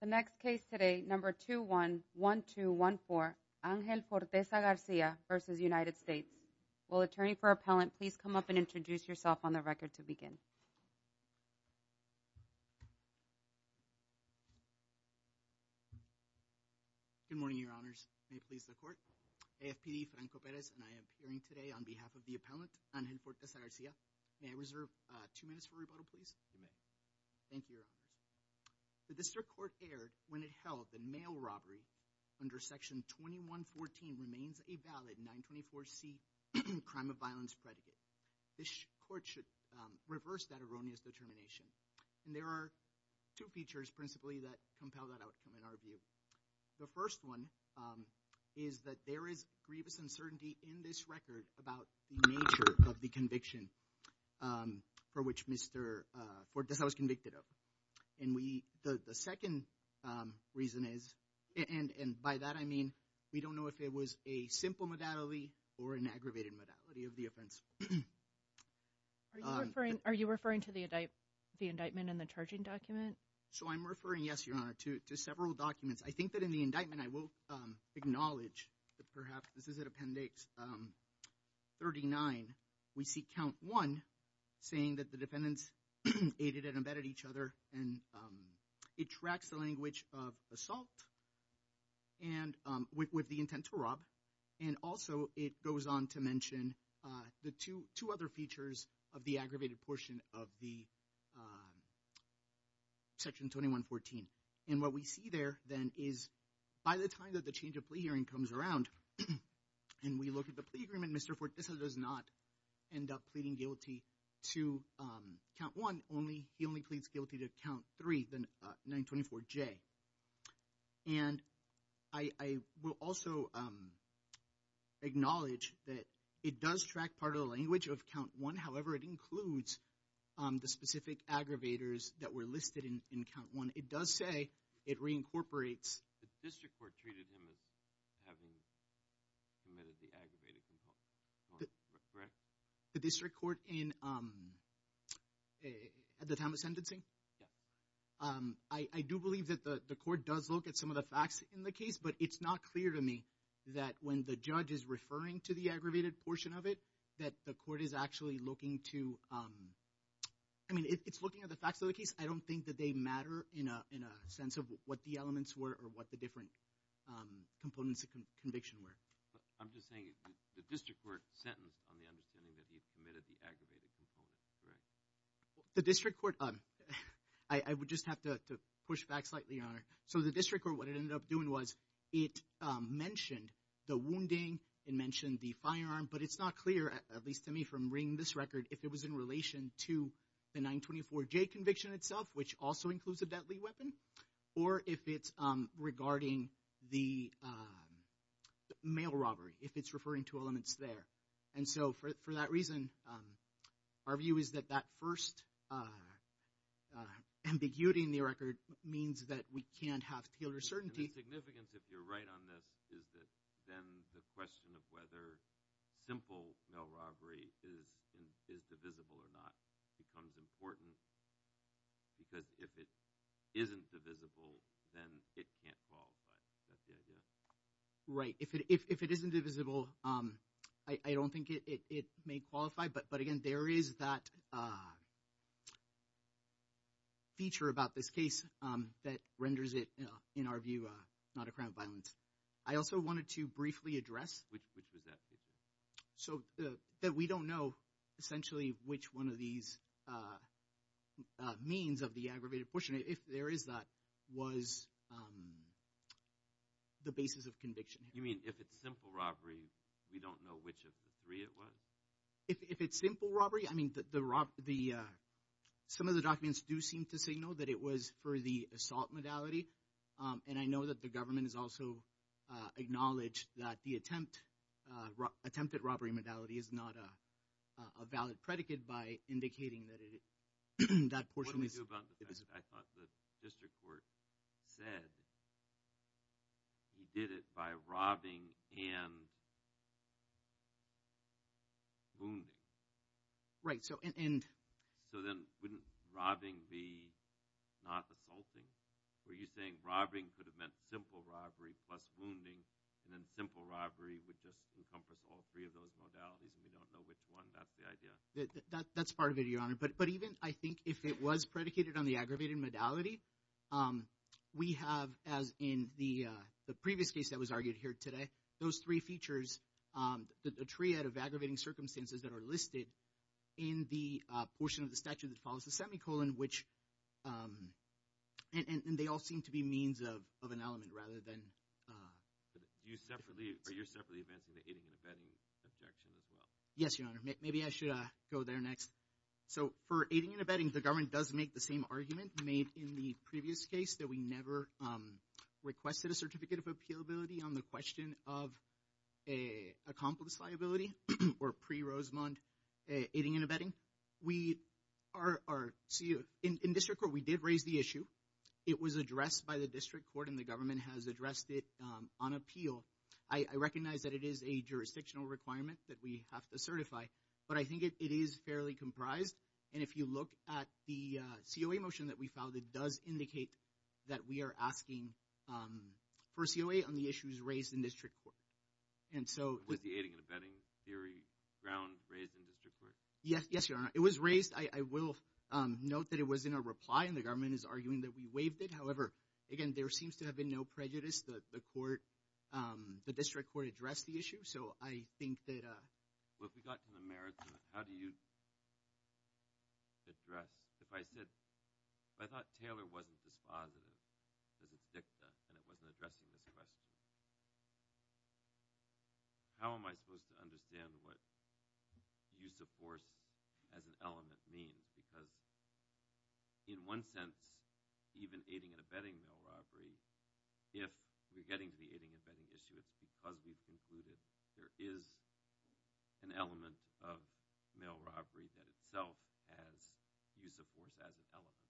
The next case today, number 2-1-1-2-1-4, Angel Forteza-Garcia v. United States. Will attorney for appellant please come up and introduce yourself on the record to begin. Good morning, your honors. May it please the court. AFPD, Franco Perez, and I am appearing today on behalf of the appellant, Angel Forteza-Garcia. May I reserve two minutes for rebuttal, please? You may. Thank you, your honors. The district court erred when it held that mail robbery under Section 2114 remains a valid 924C crime of violence predicate. This court should reverse that erroneous determination. And there are two features principally that compel that outcome in our view. The first one is that there is grievous uncertainty in this record about the nature of the conviction for which Mr. Forteza was convicted of. And the second reason is, and by that I mean, we don't know if it was a simple modality or an aggravated modality of the offense. Are you referring to the indictment in the charging document? So I'm referring, yes, your honor, to several documents. I think that in the indictment, I will acknowledge that perhaps this is an appendix 39. We see count one saying that the defendants aided and abetted each other. And it tracks the language of assault with the intent to rob. And also it goes on to mention the two other features of the aggravated portion of the Section 2114. And what we see there then is by the time that the change of plea hearing comes around and we look at the plea agreement, Mr. Forteza does not end up pleading guilty to count one. He only pleads guilty to count three, the 924J. And I will also acknowledge that it does track part of the language of count one. However, it includes the specific aggravators that were listed in count one. It does say it reincorporates. The district court treated him as having committed the aggravated compulsion, correct? The district court at the time of sentencing? Yes. I do believe that the court does look at some of the facts in the case, but it's not clear to me that when the judge is referring to the aggravated portion of it, that the court is actually looking to—I mean, it's looking at the facts of the case. I don't think that they matter in a sense of what the elements were or what the different components of conviction were. I'm just saying the district court sentenced on the understanding that he committed the aggravated component, correct? The district court—I would just have to push back slightly on it. So the district court, what it ended up doing was it mentioned the wounding. It mentioned the firearm. But it's not clear, at least to me from reading this record, if it was in relation to the 924J conviction itself, which also includes a deadly weapon, or if it's regarding the mail robbery, if it's referring to elements there. And so for that reason, our view is that that first ambiguity in the record means that we can't have tailor certainty. And the significance, if you're right on this, is that then the question of whether simple mail robbery is divisible or not becomes important because if it isn't divisible, then it can't qualify. Is that the idea? Right. If it isn't divisible, I don't think it may qualify. But again, there is that feature about this case that renders it, in our view, not a crime of violence. I also wanted to briefly address. Which was that feature? So that we don't know essentially which one of these means of the aggravated pushing, if there is that, was the basis of conviction. You mean if it's simple robbery, we don't know which of the three it was? If it's simple robbery, I mean, some of the documents do seem to signal that it was for the assault modality. And I know that the government has also acknowledged that the attempt at robbery modality is not a valid predicate by indicating that that portion is divisible. What do we do about the fact that the district court said he did it by robbing and wounding? Right. So then wouldn't robbing be not assaulting? Were you saying robbing could have meant simple robbery plus wounding, and then simple robbery would just encompass all three of those modalities, and we don't know which one? That's the idea? That's part of it, Your Honor. But even, I think, if it was predicated on the aggravated modality, we have, as in the previous case that was argued here today, those three features, the triad of aggravating circumstances that are listed in the portion of the statute that follows the semicolon, and they all seem to be means of an element rather than— Are you separately advancing the aiding and abetting objection as well? Yes, Your Honor. Maybe I should go there next. So for aiding and abetting, the government does make the same argument made in the previous case that we never requested a certificate of appealability on the question of accomplice liability or pre-Rosemond aiding and abetting. In district court, we did raise the issue. It was addressed by the district court, and the government has addressed it on appeal. I recognize that it is a jurisdictional requirement that we have to certify, but I think it is fairly comprised, and if you look at the COA motion that we filed, it does indicate that we are asking for COA on the issues raised in district court. Was the aiding and abetting theory ground raised in district court? Yes, Your Honor. It was raised. I will note that it was in a reply, and the government is arguing that we waived it. However, again, there seems to have been no prejudice. The court—the district court addressed the issue, so I think that— Well, if we got to the merits of it, how do you address— If I said—if I thought Taylor wasn't dispositive because it's dicta and it wasn't addressing this question, how am I supposed to understand what use of force as an element means? Because in one sense, even aiding and abetting mail robbery, if we're getting to the aiding and abetting issue, it's because we've concluded there is an element of mail robbery that itself has use of force as an element.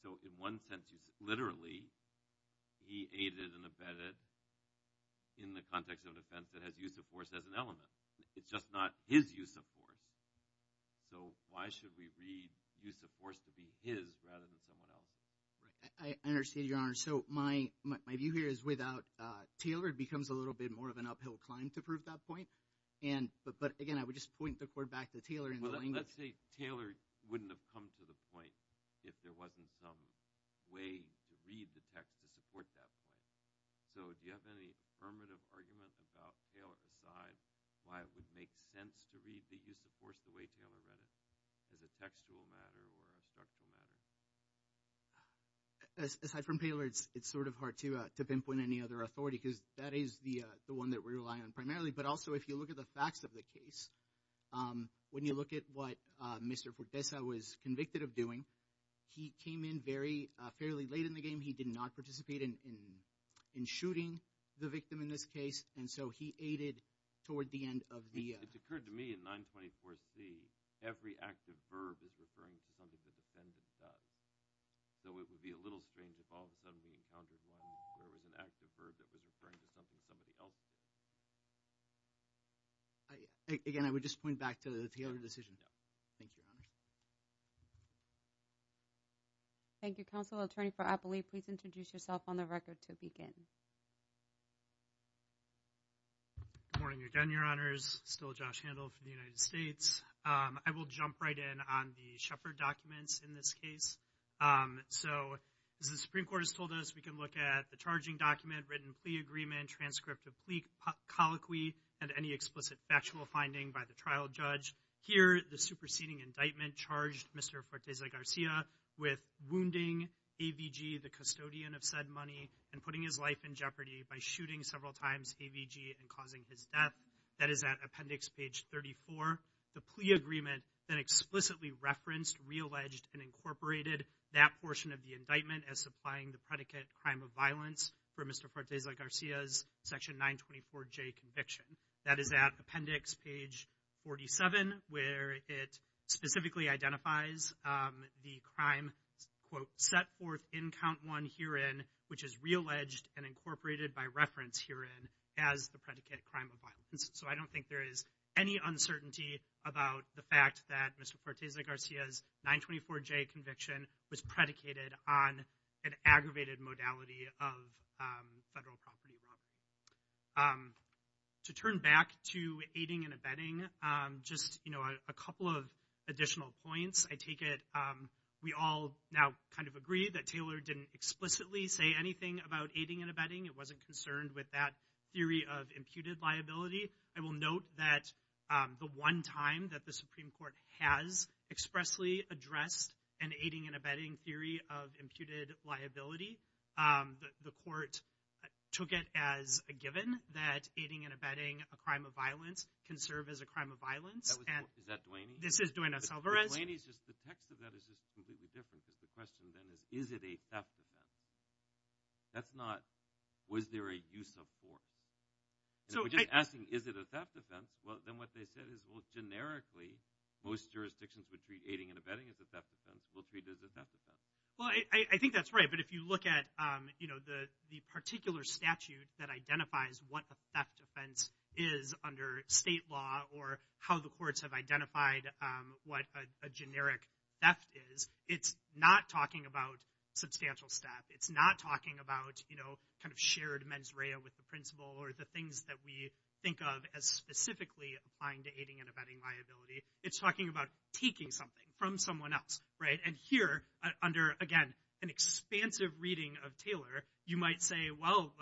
So in one sense, literally, he aided and abetted in the context of an offense that has use of force as an element. It's just not his use of force. So why should we read use of force to be his rather than someone else? Right. I understand, Your Honor. So my view here is without Taylor, it becomes a little bit more of an uphill climb to prove that point. But again, I would just point the court back to Taylor in the language— Well, let's say Taylor wouldn't have come to the point if there wasn't some way to read the text to support that point. So do you have any affirmative argument about Taylor aside, why it would make sense to read the use of force the way Taylor read it, as a textual matter or a structural matter? Aside from Taylor, it's sort of hard to pinpoint any other authority because that is the one that we rely on primarily. But also, if you look at the facts of the case, when you look at what Mr. Fortesa was convicted of doing, he came in fairly late in the game. He did not participate in shooting the victim in this case. And so he aided toward the end of the— It occurred to me in 924C, every active verb is referring to something the defendant does. So it would be a little strange if all of a sudden we encountered one where it was an active verb that was referring to something somebody else did. Again, I would just point back to the Taylor decision. Thank you, Your Honor. Thank you, Counsel. Attorney for Appley, please introduce yourself on the record to begin. Good morning again, Your Honors. Still Josh Handel for the United States. I will jump right in on the Shepard documents in this case. So as the Supreme Court has told us, we can look at the charging document, transcript of plea colloquy and any explicit factual finding by the trial judge. Here, the superseding indictment charged Mr. Fortesa Garcia with wounding AVG, the custodian of said money, and putting his life in jeopardy by shooting several times AVG and causing his death. That is at appendix page 34. The plea agreement then explicitly referenced, realleged, and incorporated that portion of the indictment as supplying the predicate crime of violence for Mr. Fortesa Garcia's section 924J conviction. That is at appendix page 47, where it specifically identifies the crime, quote, set forth in count one herein, which is realleged and incorporated by reference herein as the predicate crime of violence. So I don't think there is any uncertainty about the fact that Mr. Fortesa Garcia's 924J conviction was predicated on an aggravated modality of federal property wrong. To turn back to aiding and abetting, just a couple of additional points. I take it we all now kind of agree that Taylor didn't explicitly say anything about aiding and abetting, it wasn't concerned with that theory of imputed liability. I will note that the one time that the Supreme Court has expressly addressed an aiding and abetting theory of imputed liability, the court took it as a given that aiding and abetting a crime of violence can serve as a crime of violence. Is that Duaney? This is Duaney Salvarez. Duaney's just the text of that is just completely different, because the question then is, is it a theft of that? That's not, was there a use of force? We're just asking, is it a theft of that? Then what they said is, well, generically, most jurisdictions would treat aiding and abetting as a theft of that. We'll treat it as a theft of that. Well, I think that's right, but if you look at the particular statute that identifies what a theft offense is under state law or how the courts have identified what a generic theft is, it's not talking about substantial theft. It's not talking about shared mens rea with the principal or the things that we think of as specifically applying to aiding and abetting liability. It's talking about taking something from someone else. Here, under, again, an expansive reading of Taylor, you might say, well,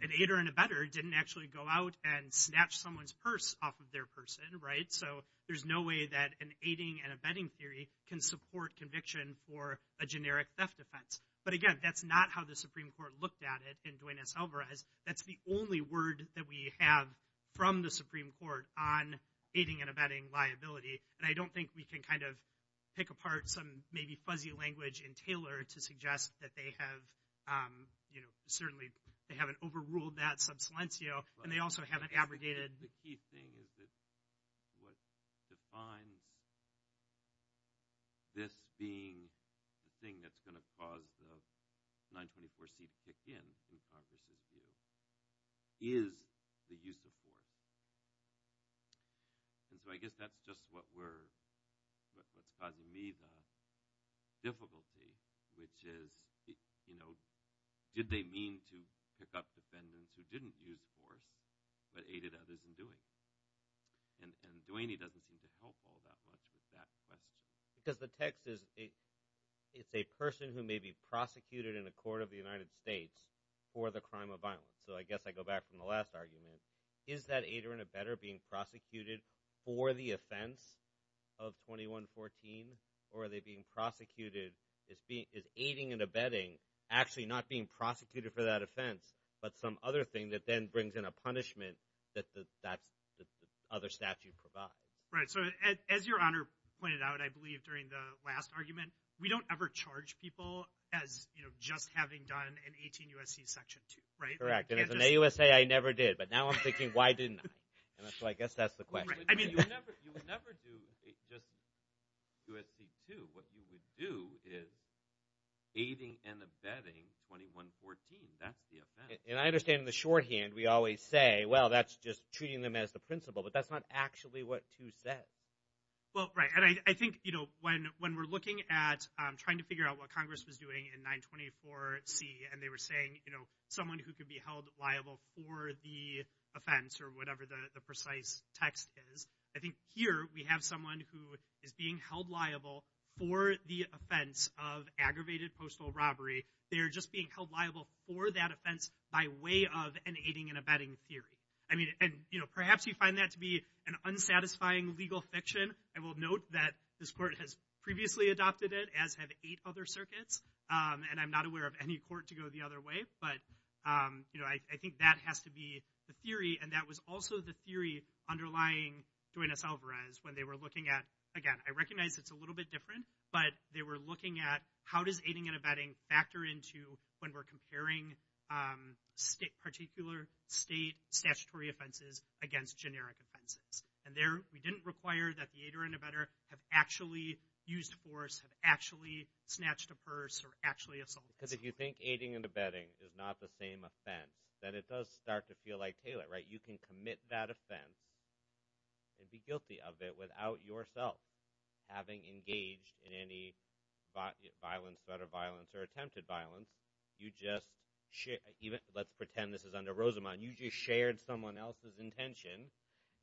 an aider and abetter didn't actually go out and snatch someone's purse off of their person, so there's no way that an aiding and abetting theory can support conviction for a generic theft offense. But, again, that's not how the Supreme Court looked at it in Duenas-Alvarez. That's the only word that we have from the Supreme Court on aiding and abetting liability, and I don't think we can kind of pick apart some maybe fuzzy language in Taylor to suggest that they have, you know, certainly they haven't overruled that sub silencio, and they also haven't abrogated. The key thing is that what defines this being the thing that's going to cause the 924C to kick in, in Congress's view, is the use of force. And so I guess that's just what we're – what's causing me the difficulty, which is, you know, did they mean to pick up defendants who didn't use force but aided others in doing? And Duaney doesn't seem to help all that much with that question. Because the text is it's a person who may be prosecuted in a court of the United States for the crime of violence. So I guess I go back from the last argument. Is that aider and abetter being prosecuted for the offense of 2114, or are they being prosecuted – is aiding and abetting actually not being prosecuted for that offense but some other thing that then brings in a punishment that the other statute provides? Right. So as Your Honor pointed out, I believe, during the last argument, we don't ever charge people as just having done an 18 U.S.C. Section 2, right? Correct. And as an AUSA, I never did. But now I'm thinking, why didn't I? And so I guess that's the question. Right. I mean – You would never do just U.S.C. 2. What you would do is aiding and abetting 2114. That's the offense. And I understand in the shorthand we always say, well, that's just treating them as the principal, but that's not actually what 2 says. Well, right. And I think when we're looking at trying to figure out what Congress was doing in 924C and they were saying someone who could be held liable for the offense or whatever the precise text is, I think here we have someone who is being held liable for the offense of aggravated postal robbery. They're just being held liable for that offense by way of an aiding and abetting theory. I mean – and, you know, perhaps you find that to be an unsatisfying legal fiction. I will note that this court has previously adopted it, as have eight other circuits. And I'm not aware of any court to go the other way. But, you know, I think that has to be the theory. And that was also the theory underlying Duenas-Alvarez when they were looking at – again, I recognize it's a little bit different. But they were looking at how does aiding and abetting factor into when we're particular state statutory offenses against generic offenses. And there we didn't require that the aider and abetter have actually used force, have actually snatched a purse, or actually assaulted someone. Because if you think aiding and abetting is not the same offense, then it does start to feel like Taylor, right? You can commit that offense and be guilty of it without yourself having engaged in any violence, threat of violence, or attempted violence. Let's pretend this is under Rosamond. You just shared someone else's intention,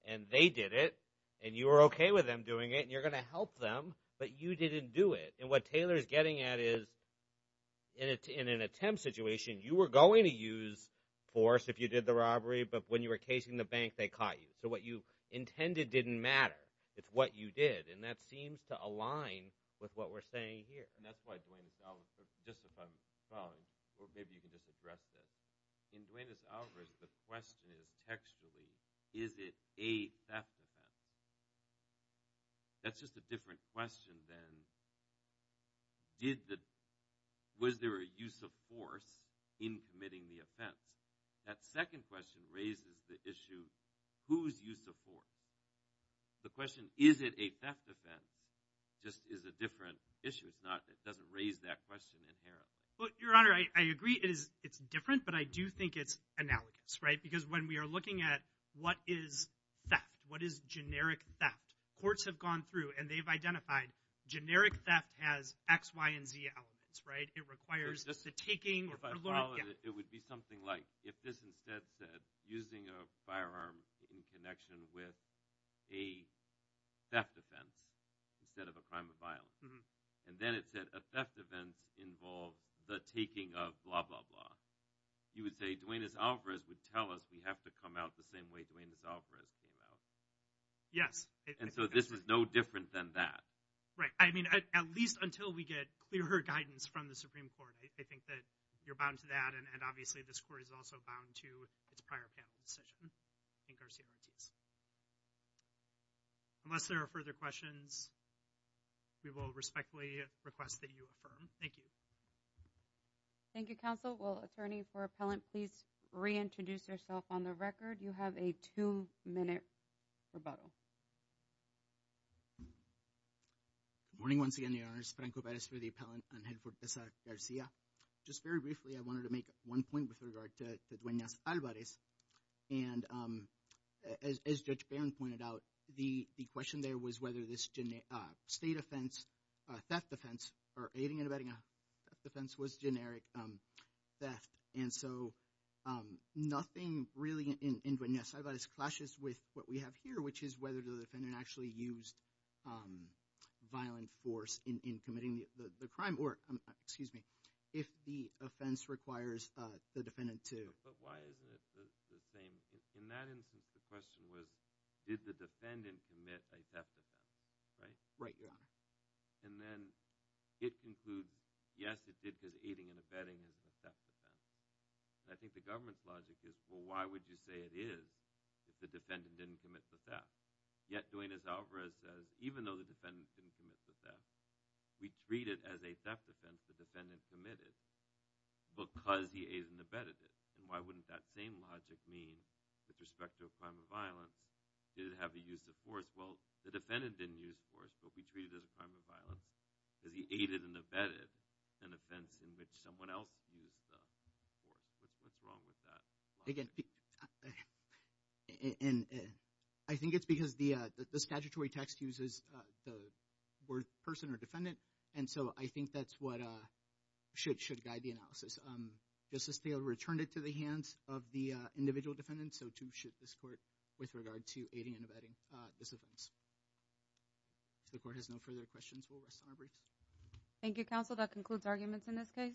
and they did it, and you were okay with them doing it, and you're going to help them, but you didn't do it. And what Taylor is getting at is in an attempt situation, you were going to use force if you did the robbery, but when you were casing the bank, they caught you. So what you intended didn't matter. It's what you did. And that seems to align with what we're saying here. Just if I'm following, or maybe you can just address this. In Duenas-Alvarez, the question is textually, is it a theft offense? That's just a different question than was there a use of force in committing the offense. That second question raises the issue, whose use of force? The question, is it a theft offense, just is a different issue. It doesn't raise that question inherently. Your Honor, I agree it's different, but I do think it's analogous. Because when we are looking at what is theft, what is generic theft, courts have gone through and they've identified generic theft has X, Y, and Z elements. It requires the taking. If I followed it, it would be something like if this instead said, using a firearm in connection with a theft offense instead of a crime of violence. And then it said a theft event involved the taking of blah, blah, blah. You would say Duenas-Alvarez would tell us we have to come out the same way Duenas-Alvarez came out. Yes. And so this is no different than that. Right. I mean, at least until we get clearer guidance from the Supreme Court, I think that you're bound to that and obviously this court is also bound to its prior panel decision in Garcia-Ortiz. Unless there are further questions, we will respectfully request that you affirm. Thank you. Thank you, Counsel. Will Attorney for Appellant please reintroduce yourself on the record? You have a two-minute rebuttal. Good morning once again, Your Honors. Franco Perez for the Appellant and head for Garcia. Just very briefly, I wanted to make one point with regard to Duenas-Alvarez. And as Judge Barron pointed out, the question there was whether this state offense, theft offense, or aiding and abetting a theft offense was generic theft. And so nothing really in Duenas-Alvarez clashes with what we have here, which is whether the defendant actually used violent force in committing the crime or, excuse me, if the offense requires the defendant to. But why isn't it the same? In that instance, the question was did the defendant commit a theft offense, right? Right, Your Honor. And then it concludes, yes, it did because aiding and abetting is a theft offense. And I think the government's logic is, well, why would you say it is if the defendant didn't commit the theft? Yet Duenas-Alvarez says, even though the defendant didn't commit the theft, we treat it as a theft offense the defendant committed because he aided and abetted it. And why wouldn't that same logic mean with respect to a crime of violence? Did it have a use of force? Well, the defendant didn't use force, but we treat it as a crime of violence because he aided and abetted an offense in which someone else used the force. What's wrong with that logic? Again, I think it's because the statutory text uses the word person or defendant, and so I think that's what should guide the analysis. Justice Thaler returned it to the hands of the individual defendant, and so too should this Court with regard to aiding and abetting this offense. If the Court has no further questions, we'll rest on our breaks. Thank you, Counsel. That concludes arguments in this case.